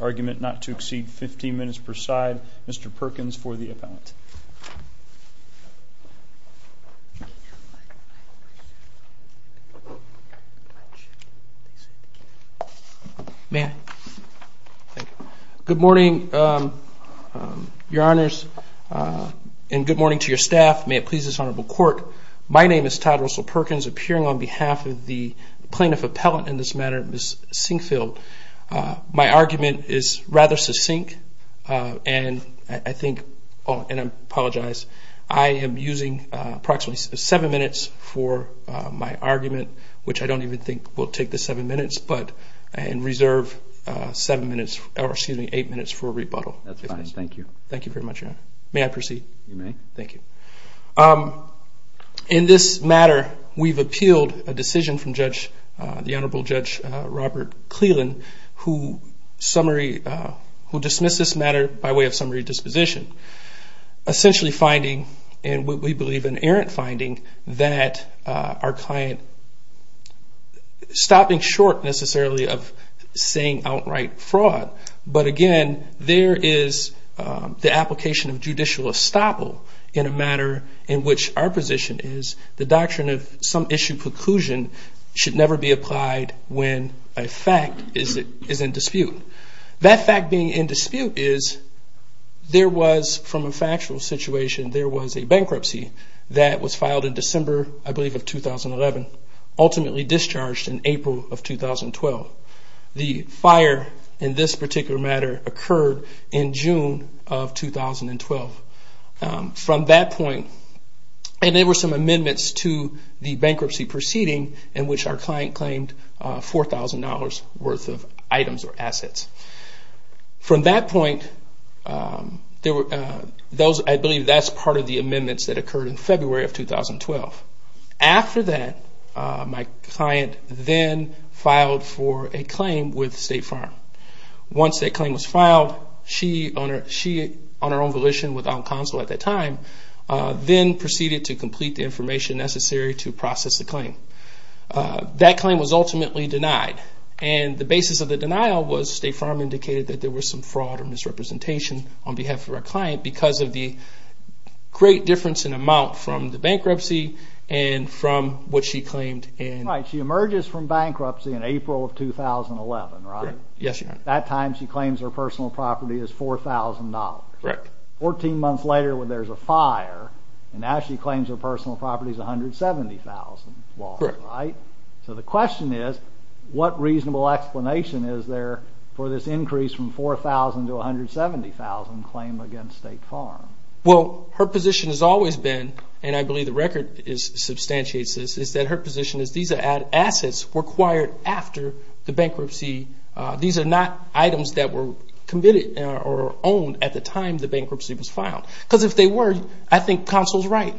Argument not to exceed 15 minutes per side. Mr. Perkins for the appellant. Good morning, Your Honors, and good morning to your staff, members of the court. My name is Todd Russell Perkins, appearing on behalf of the plaintiff appellant in this matter, Ms. Sinkfield. My argument is rather succinct, and I think, and I apologize, I am using approximately 7 minutes for my argument, which I don't even think will take the 7 minutes, but I reserve 7 minutes, or excuse me, 8 minutes for rebuttal. That's fine, thank you. Thank you very much, Your Honor. Thank you. In this matter, we've appealed a decision from Judge, the Honorable Judge Robert Cleland, who summary, who dismissed this matter by way of summary disposition. Essentially finding, and we believe an errant finding, that our client, stopping short necessarily of saying outright fraud, but again, there is the application of judicial estoppel in a matter in which our position is the doctrine of some issue preclusion should never be applied when a fact is in dispute. That fact being in dispute is there was, from a factual situation, there was a bankruptcy that was filed in December, I believe, of 2011, ultimately discharged in April of 2012. The fire in this particular matter occurred in June of 2012. From that point of view, and there were some amendments to the bankruptcy proceeding in which our client claimed $4,000 worth of items or assets. From that point, I believe that's part of the amendments that occurred in February of 2012. After that, my client then filed for a claim with State Farm. Once that claim was filed, she, on her own volition without counsel at that time, then proceeded to complete the information necessary to process the claim. That claim was ultimately denied. The basis of the denial was State Farm indicated that there was some fraud or misrepresentation on behalf of our client because of the great difference in amount from the bankruptcy and from what she claimed. Right. She emerges from bankruptcy in April of 2011, right? Yes. At that time, she claims her personal property is $4,000. Correct. Fourteen months later there's a fire and now she claims her personal property is $170,000, right? Correct. So the question is, what reasonable explanation is there for this increase from $4,000 to $170,000 claim against State Farm? Well, her position has always been, and I believe the record substantiates this, is that her position is these are assets required after the bankruptcy. These are not items that were committed or owned at the time the bankruptcy was filed. Because if they were, I think counsel's right.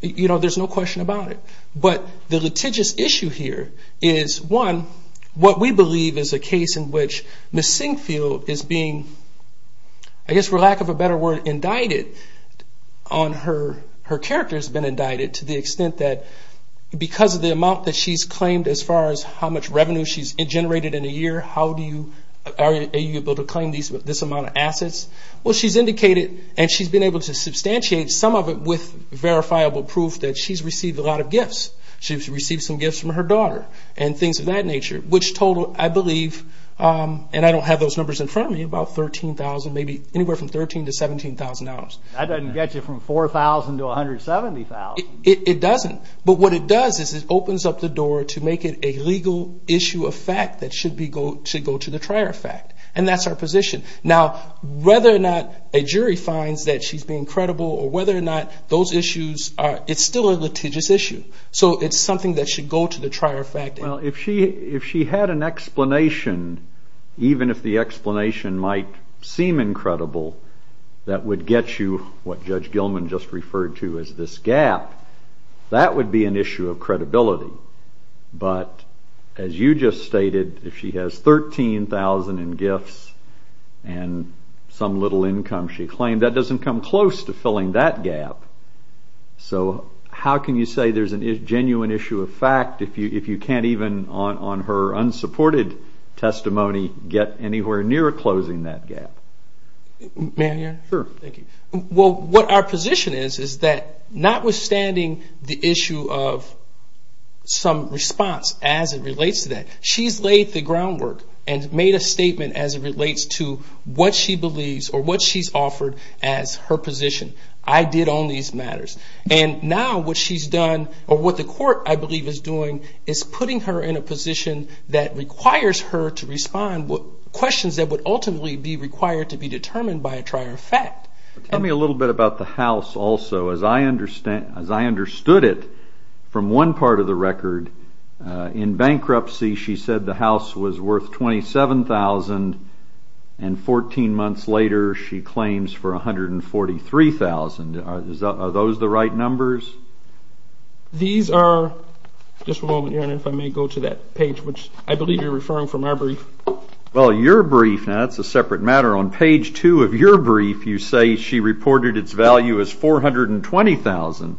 There's no question about it. But the litigious issue here is, one, what we believe is a case in which Ms. McLaughlin, her character has been indicted to the extent that because of the amount that she's claimed as far as how much revenue she's generated in a year, are you able to claim this amount of assets? Well, she's indicated and she's been able to substantiate some of it with verifiable proof that she's received a lot of gifts. She's received some gifts from her daughter and things of that nature. But what it does is it opens up the door to make it a legal issue of fact that should go to the trier fact. And that's her position. Now, whether or not a jury finds that she's being credible or whether or not those issues are, it's still a litigious issue. So it's something that should go to the trier fact. Well, if she had an explanation, even if the explanation might seem incredible, that would get you what Judge Gilman just referred to as this gap, that would be an issue of credibility. But as you just stated, if she has $13,000 in gifts and some little income she claimed, that doesn't come close to filling that gap. So how can you say there's a genuine issue of fact if you can't even, on her unsupported testimony, get anywhere near closing that gap? May I hear? Sure. Thank you. Well, what our position is, is that notwithstanding the issue of some response as it relates to that, she's laid the groundwork and made a statement as it relates to what she believes or what she's offered as her position. I did own these matters. And now what she's done or what the court, I believe, is doing is putting her in a position that requires her to respond to questions that would ultimately be required to be determined by a trier of fact. Tell me a little bit about the house also. As I understood it from one part of the record, in bankruptcy she said the house was worth $27,000 and 14 months later she claims for $143,000. Are those the right numbers? These are, just a moment, Your Honor, if I may go to that page, which I believe you're referring from our brief. Well, your brief, now that's a separate matter. On page two of your brief you say she reported its value as $420,000,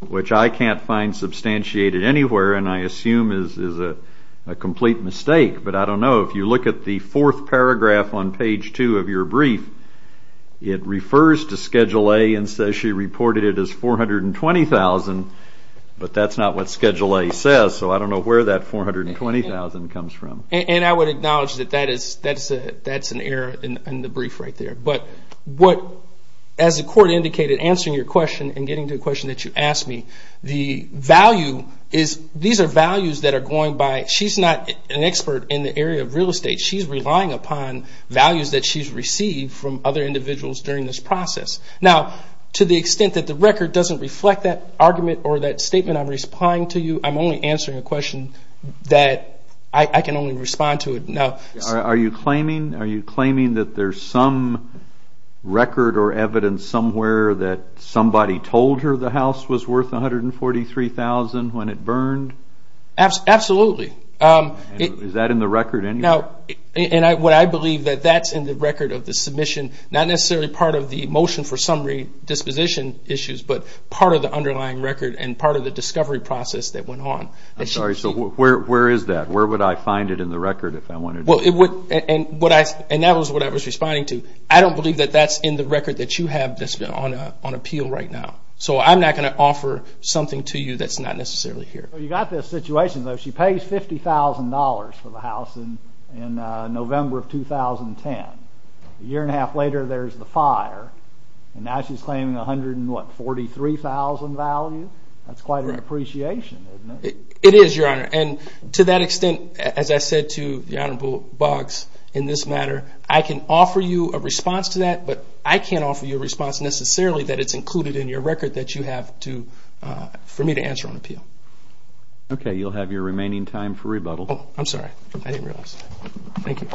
which I can't find substantiated anywhere and I assume is a complete mistake. But I don't know. If you look at the fourth paragraph on page two of your brief, it refers to Schedule A and says she reported it as $420,000, but that's not what Schedule A says, so I don't know where that $420,000 comes from. And I would acknowledge that that's an error in the brief right there. But as the court indicated, answering your question and getting to the question that you asked me, these are values that are going by, she's not an expert in the area of real estate. She's relying upon values that she's received from other individuals during this process. Now, to the extent that the record doesn't reflect that argument or that question, that I can only respond to it. Are you claiming that there's some record or evidence somewhere that somebody told her the house was worth $143,000 when it burned? Absolutely. Is that in the record anyway? And I believe that that's in the record of the submission, not necessarily part of the motion for summary disposition issues, but part of the underlying record and part of the discovery process that went on. I'm sorry, so where is that? Where would I find it in the record if I wanted to? And that was what I was responding to. I don't believe that that's in the record that you have that's on appeal right now. So I'm not going to offer something to you that's not necessarily here. Well, you've got this situation, though. She pays $50,000 for the house in November of 2010. A year and a half later, there's the fire. And now she's claiming $143,000 value. That's quite an appreciation, isn't it? It is, Your Honor. And to that extent, as I said to the Honorable Boggs in this matter, I can offer you a response to that, but I can't offer you a response necessarily that it's included in your record that you have for me to answer on appeal. Okay, you'll have your remaining time for rebuttal. Oh, I'm sorry. I didn't realize. Thank you.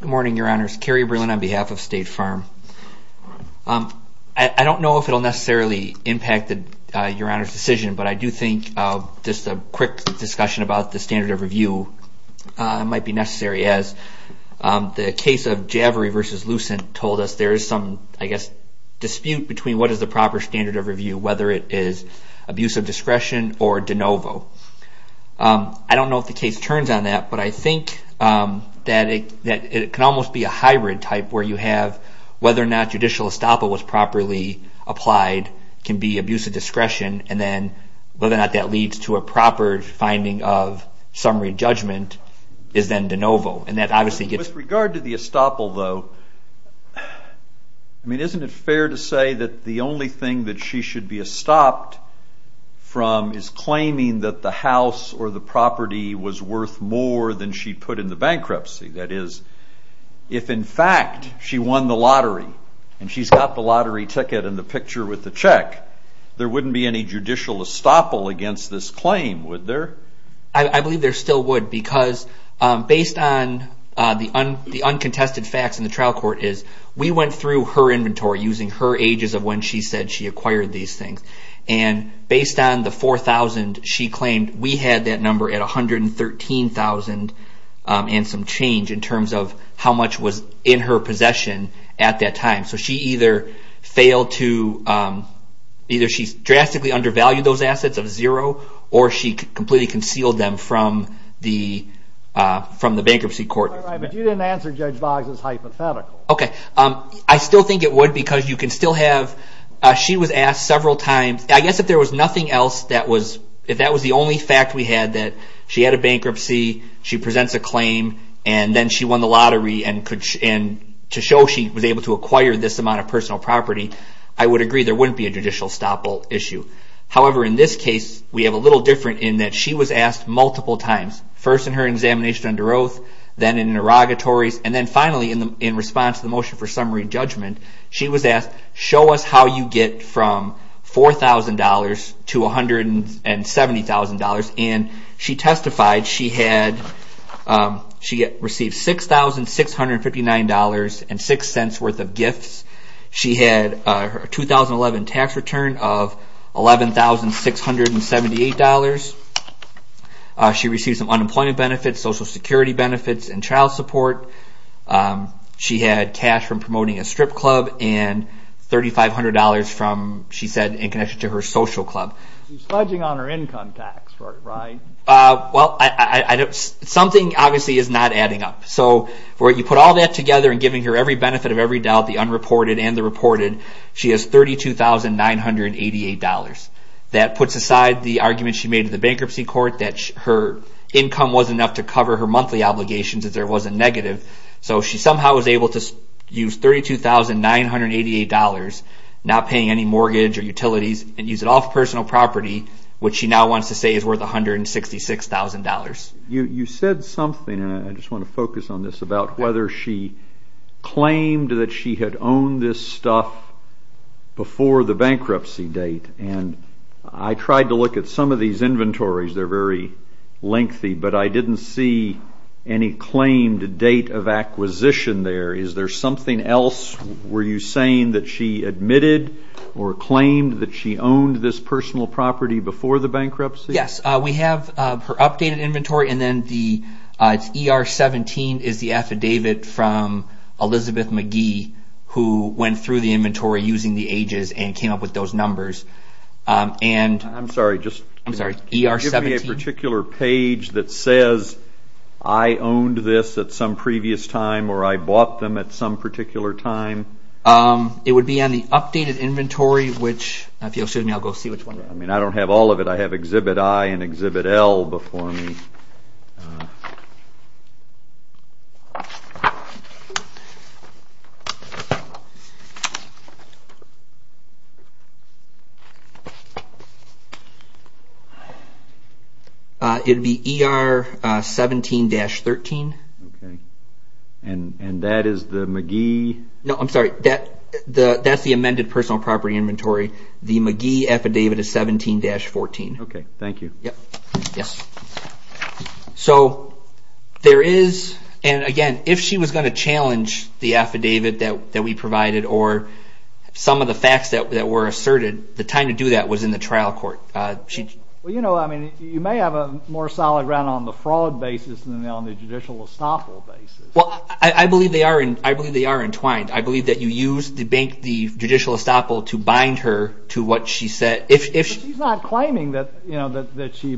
Good morning, Your Honors. Kerry Berlin on behalf of State Farm. I don't know if it will necessarily impact Your Honor's decision, but I do think just a quick discussion about the standard of review might be necessary, as the case of Javery v. Lucent told us there is some, I guess, dispute between what is the proper standard of review, whether it is abuse of discretion or de novo. I don't know if the case turns on that, but I think that it can almost be a hybrid type where you have whether or not judicial estoppel was properly applied can be abuse of discretion, and then whether or not that leads to a proper finding of summary judgment is then de novo. With regard to the estoppel, though, isn't it fair to say that the only thing that she should be estopped from is claiming that the house or the property was worth more than she put in the bankruptcy? That is, if in fact she won the lottery and she's got the lottery ticket and the picture with the check, there wouldn't be any judicial estoppel against this claim, would there? I believe there still would, because based on the uncontested facts in the trial court is we went through her inventory using her ages of when she said she acquired these things, and based on the $4,000, she claimed we had that number at $113,000 and some change in terms of how much was in her possession at that time. So she either failed to, either she drastically undervalued those assets of zero, or she completely concealed them from the bankruptcy court. But you didn't answer Judge Boggs' hypothetical. Okay. I still think it would, because you can still have, she was asked several times, I guess if there was nothing else that was, if that was the only fact we had, that she had a bankruptcy, she presents a claim, and then she won the lottery, and to show she was able to acquire this amount of However, in this case, we have a little different in that she was asked multiple times, first in her examination under oath, then in interrogatories, and then finally in response to the motion for summary judgment, she was asked, show us how you get from $4,000 to $170,000, and she testified she received $6,659.06 worth of gifts. She had a 2011 tax return of $11,678. She received some unemployment benefits, social security benefits, and child support. She had cash from promoting a strip club, and $3,500 from, she said, in connection to her social club. She's fudging on her income tax, right? Well, something obviously is not adding up. So you put all that together and giving her every benefit of every doubt, the unreported and the reported, she has $32,988. That puts aside the argument she made in the bankruptcy court that her income wasn't enough to cover her monthly obligations, that there was a negative. So she somehow was able to use $32,988, not paying any mortgage or utilities, and use it all for personal property, which she now wants to say is worth $166,000. You said something, and I just want to focus on this, about whether she claimed that she had owned this stuff before the bankruptcy date. And I tried to look at some of these inventories. They're very lengthy, but I didn't see any claimed date of acquisition there. Is there something else? Were you saying that she admitted or claimed that she owned this personal property before the bankruptcy? Yes. We have her updated inventory, and then the ER-17 is the affidavit from Elizabeth McGee, who went through the inventory using the ages and came up with those numbers. I'm sorry, just give me a particular page that says, I owned this at some previous time, or I bought them at some particular time. It would be on the updated inventory, which I'll go see which one. I don't have all of it. I have Exhibit I and Exhibit L before me. It would be ER-17-13. And that is the McGee... No, I'm sorry, that's the amended personal property inventory. The McGee affidavit is 17-14. Okay, thank you. Yes. So there is, and again, if she was going to challenge the affidavit that we provided or some of the facts that were asserted, the time to do that was in the trial court. Well, you know, I mean, you may have a more solid ground on the fraud basis than on the judicial estoppel basis. Well, I believe they are entwined. I believe that you used the judicial estoppel to bind her to what she said. But she's not claiming that she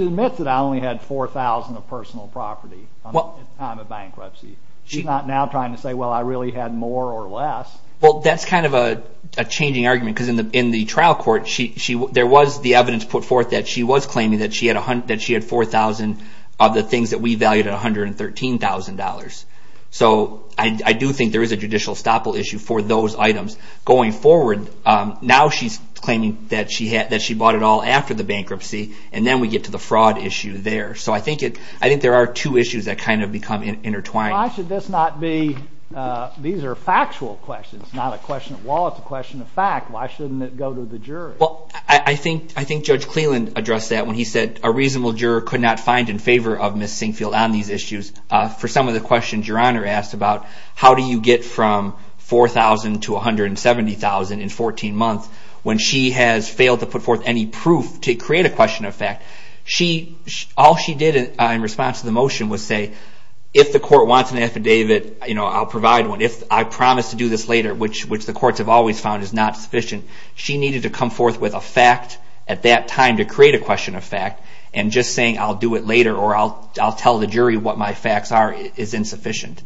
admits that I only had 4,000 of personal property at the time of bankruptcy. She's not now trying to say, well, I really had more or less. Well, that's kind of a changing argument, because in the trial court, there was the evidence put forth that she was claiming that she had 4,000 of the things that we valued at $113,000. So I do think there is a judicial estoppel issue for those items going forward. Now she's claiming that she bought it all after the bankruptcy, and then we get to the fraud issue there. So I think there are two issues that kind of become intertwined. Why should this not be? These are factual questions, not a question of law. It's a question of fact. Why shouldn't it go to the jury? Well, I think Judge Cleland addressed that when he said a reasonable juror could not find in favor of Ms. Sinkfield on these issues. For some of the questions Your Honor asked about, how do you get from 4,000 to $170,000 in 14 months when she has failed to put forth any proof to create a question of fact? All she did in response to the motion was say, if the court wants an affidavit, I'll provide one. If I promise to do this later, which the courts have always found is not sufficient, she needed to come forth with a fact at that time to create a question of fact. I'll do it later, or I'll tell the jury what my facts are is insufficient,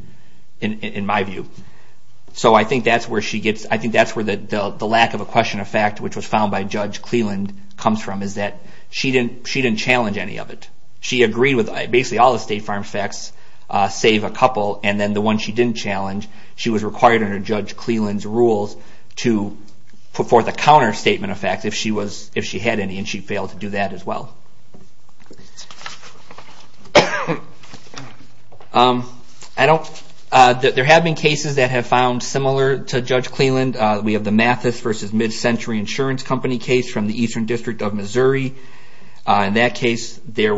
in my view. So I think that's where the lack of a question of fact, which was found by Judge Cleland, comes from, is that she didn't challenge any of it. She agreed with basically all the State Farm facts, save a couple. And then the one she didn't challenge, she was required under Judge Cleland's rules to put forth a counter statement of fact if she had any, and she failed to do that as well. There have been cases that have found similar to Judge Cleland. We have the Mathis versus Mid-Century Insurance Company case from the Eastern District of Missouri. In that case, their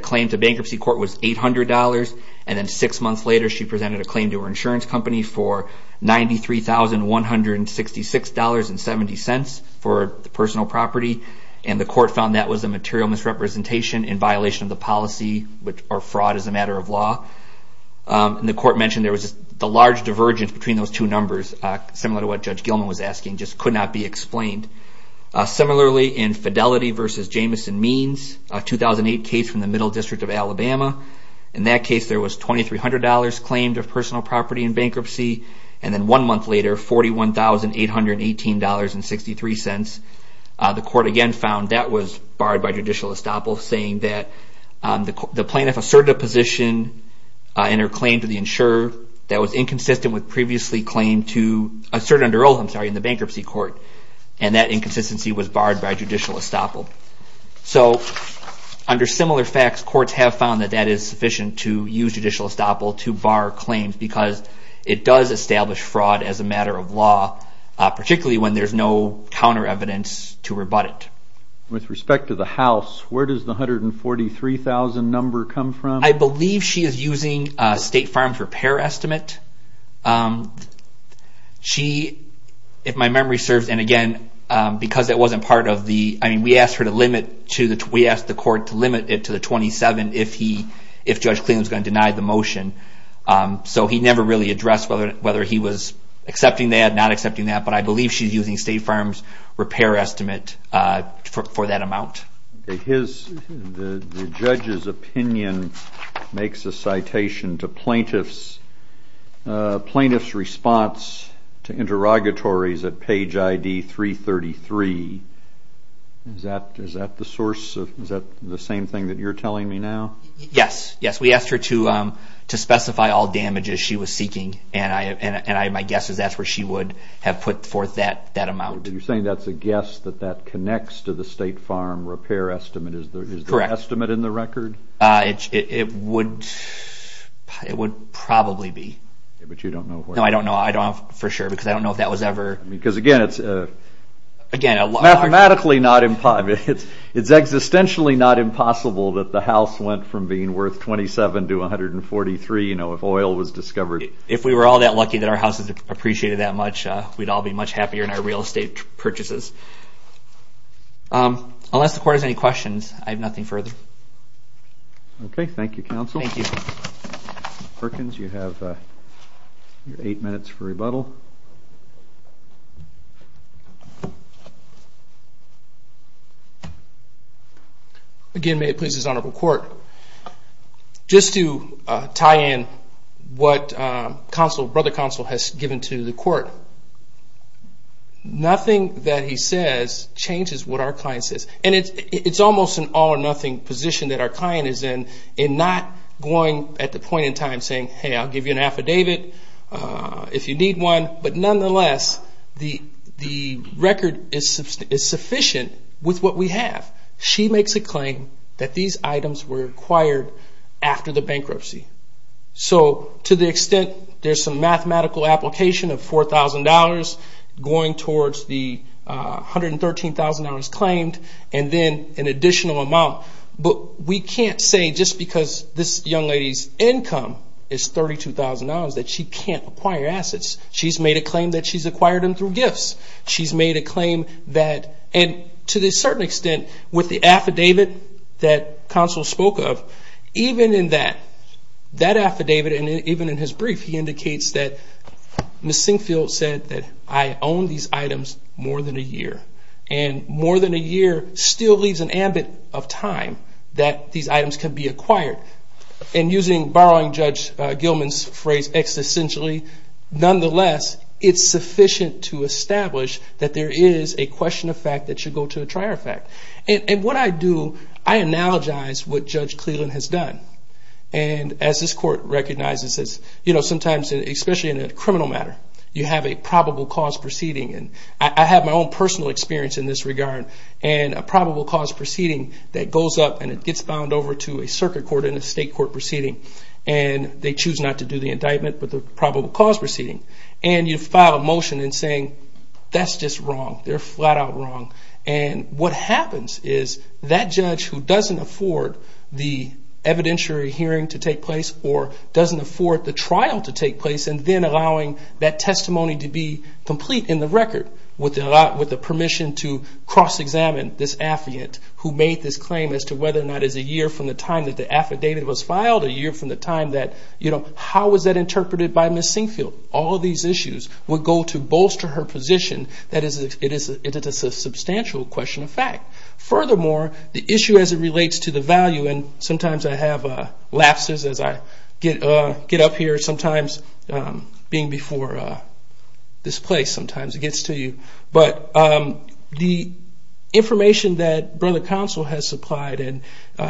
claim to bankruptcy court was $800, and then six months later she presented a claim to her insurance company for $93,166.70 for the personal property. And the court found that was a material misrepresentation in violation of the policy or fraud as a matter of law. And the court mentioned there was the large divergence between those two numbers, similar to what Judge Gilman was asking, just could not be explained. Similarly, in Fidelity versus Jamison Means, a 2008 case from the Middle District of Alabama. In that case, there was $2,300 claimed of personal property in bankruptcy, and then one month later, $41,818.63. The court again found that was barred by judicial estoppel, saying that the plaintiff asserted a position in her claim to the insurer that was inconsistent with previously claimed to assert under oath, I'm sorry, in the bankruptcy court. And that inconsistency was barred by judicial estoppel. So under similar facts, courts have found that that is sufficient to use judicial estoppel to bar claims, because it does establish fraud as a matter of law, particularly when there's no counter evidence to rebut it. With respect to the house, where does the $143,000 number come from? I believe she is using State Farms Repair Estimate. She, if my memory serves, and again, because it wasn't part of the, I mean, we asked her to limit to the, we asked the court to limit it to the $27,000 if he, if Judge Cleveland was going to deny the motion. So he never really addressed whether he was accepting that, not accepting that, but I believe she's using State Farms Repair Estimate for that amount. His, the judge's opinion makes a citation to plaintiff's response to interrogatories at page ID 333. Is that the source of, is that the same thing that you're telling me now? Yes, yes, we asked her to specify all damages she was seeking, and my guess is that's where she would have put forth that amount. You're saying that's a guess, that that connects to the State Farm Repair Estimate, is the estimate in the record? It would probably be. But you don't know where? No, I don't know, I don't know for sure, because I don't know if that was ever. Because again, it's mathematically not impossible, it's existentially not impossible that the house went from being worth $27,000 to $143,000, you know, if oil was discovered. If we were all that lucky that our houses appreciated that much, we'd all be much happier in our real estate purchases. Unless the court has any questions, I have nothing further. Okay, thank you, counsel. Thank you. Perkins, you have eight minutes for rebuttal. Again, may it please this honorable court, just to tie in what brother counsel has given to the court. Nothing that he says changes what our client says. And it's almost an all or nothing position that our client is in, in not going at the point in time saying, hey, I'll give you an affidavit if you need one. But nonetheless, the record is sufficient with what we have. She makes a claim that these items were acquired after the bankruptcy. So to the extent there's some mathematical application of $4,000 going towards the $113,000 claimed, and then an additional amount. But we can't say just because this young lady's income is $32,000 that she can't acquire assets. She's made a claim that she's acquired them through gifts. She's made a claim that, and to a certain extent with the affidavit that counsel spoke of, even in that affidavit and even in his brief, he indicates that Ms. Singfield said that I own these items more than a year. And more than a year still leaves an ambit of time that these items can be acquired. And using, borrowing Judge Gilman's phrase, existentially, nonetheless, it's sufficient to establish that there is a question of fact that should go to a trier of fact. And what I do, I analogize what Judge Cleland has done. And as this court recognizes, you know, sometimes, especially in a criminal matter, you have a probable cause proceeding. And I have my own personal experience in this regard. And a probable cause proceeding that goes up and it gets found over to a circuit court and a state court proceeding. And they choose not to do the indictment, but the probable cause proceeding. And you file a motion in saying, that's just wrong. They're flat out wrong. And what happens is that judge who doesn't afford the evidentiary hearing to take place or doesn't afford the trial to take place and then allowing that testimony to be complete in the record with the permission to cross-examine this affidavit who made this claim as to whether or not it's a year from the time that the affidavit was filed, a year from the time that, you know, how was that interpreted by Ms. Sinquefield? All of these issues would go to bolster her position that it is a substantial question of fact. Furthermore, the issue as it relates to the value, and sometimes I have lapses as I get up here. Sometimes being before this place, sometimes it gets to you. But the information that Brother Counsel has supplied and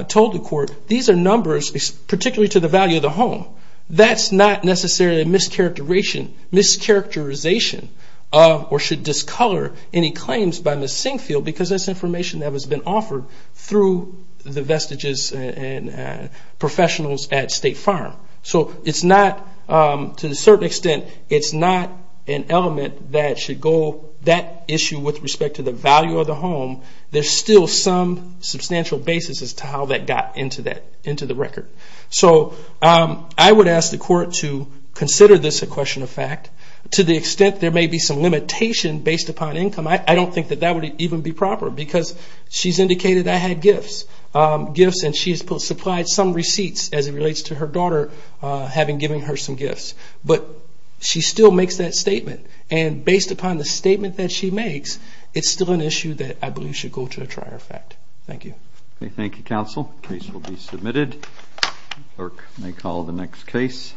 told the court, these are numbers particularly to the value of the home. That's not necessarily a mischaracterization or should discolor any claims by Ms. Sinquefield because that's information that has been offered through the vestiges and professionals at State Farm. So it's not, to a certain extent, it's not an element that should go, that issue with respect to the value of the home, there's still some substantial basis as to how that got into the record. So I would ask the court to consider this a question of fact. To the extent there may be some limitation based upon income, I don't think that that would even be proper because she's indicated I had gifts and she's supplied some receipts as it relates to her daughter having given her some gifts. But she still makes that statement, and based upon the statement that she makes, it's still an issue that I believe should go to a trial of fact. Thank you. Thank you, Counsel. Case will be submitted. Clerk may call the next case.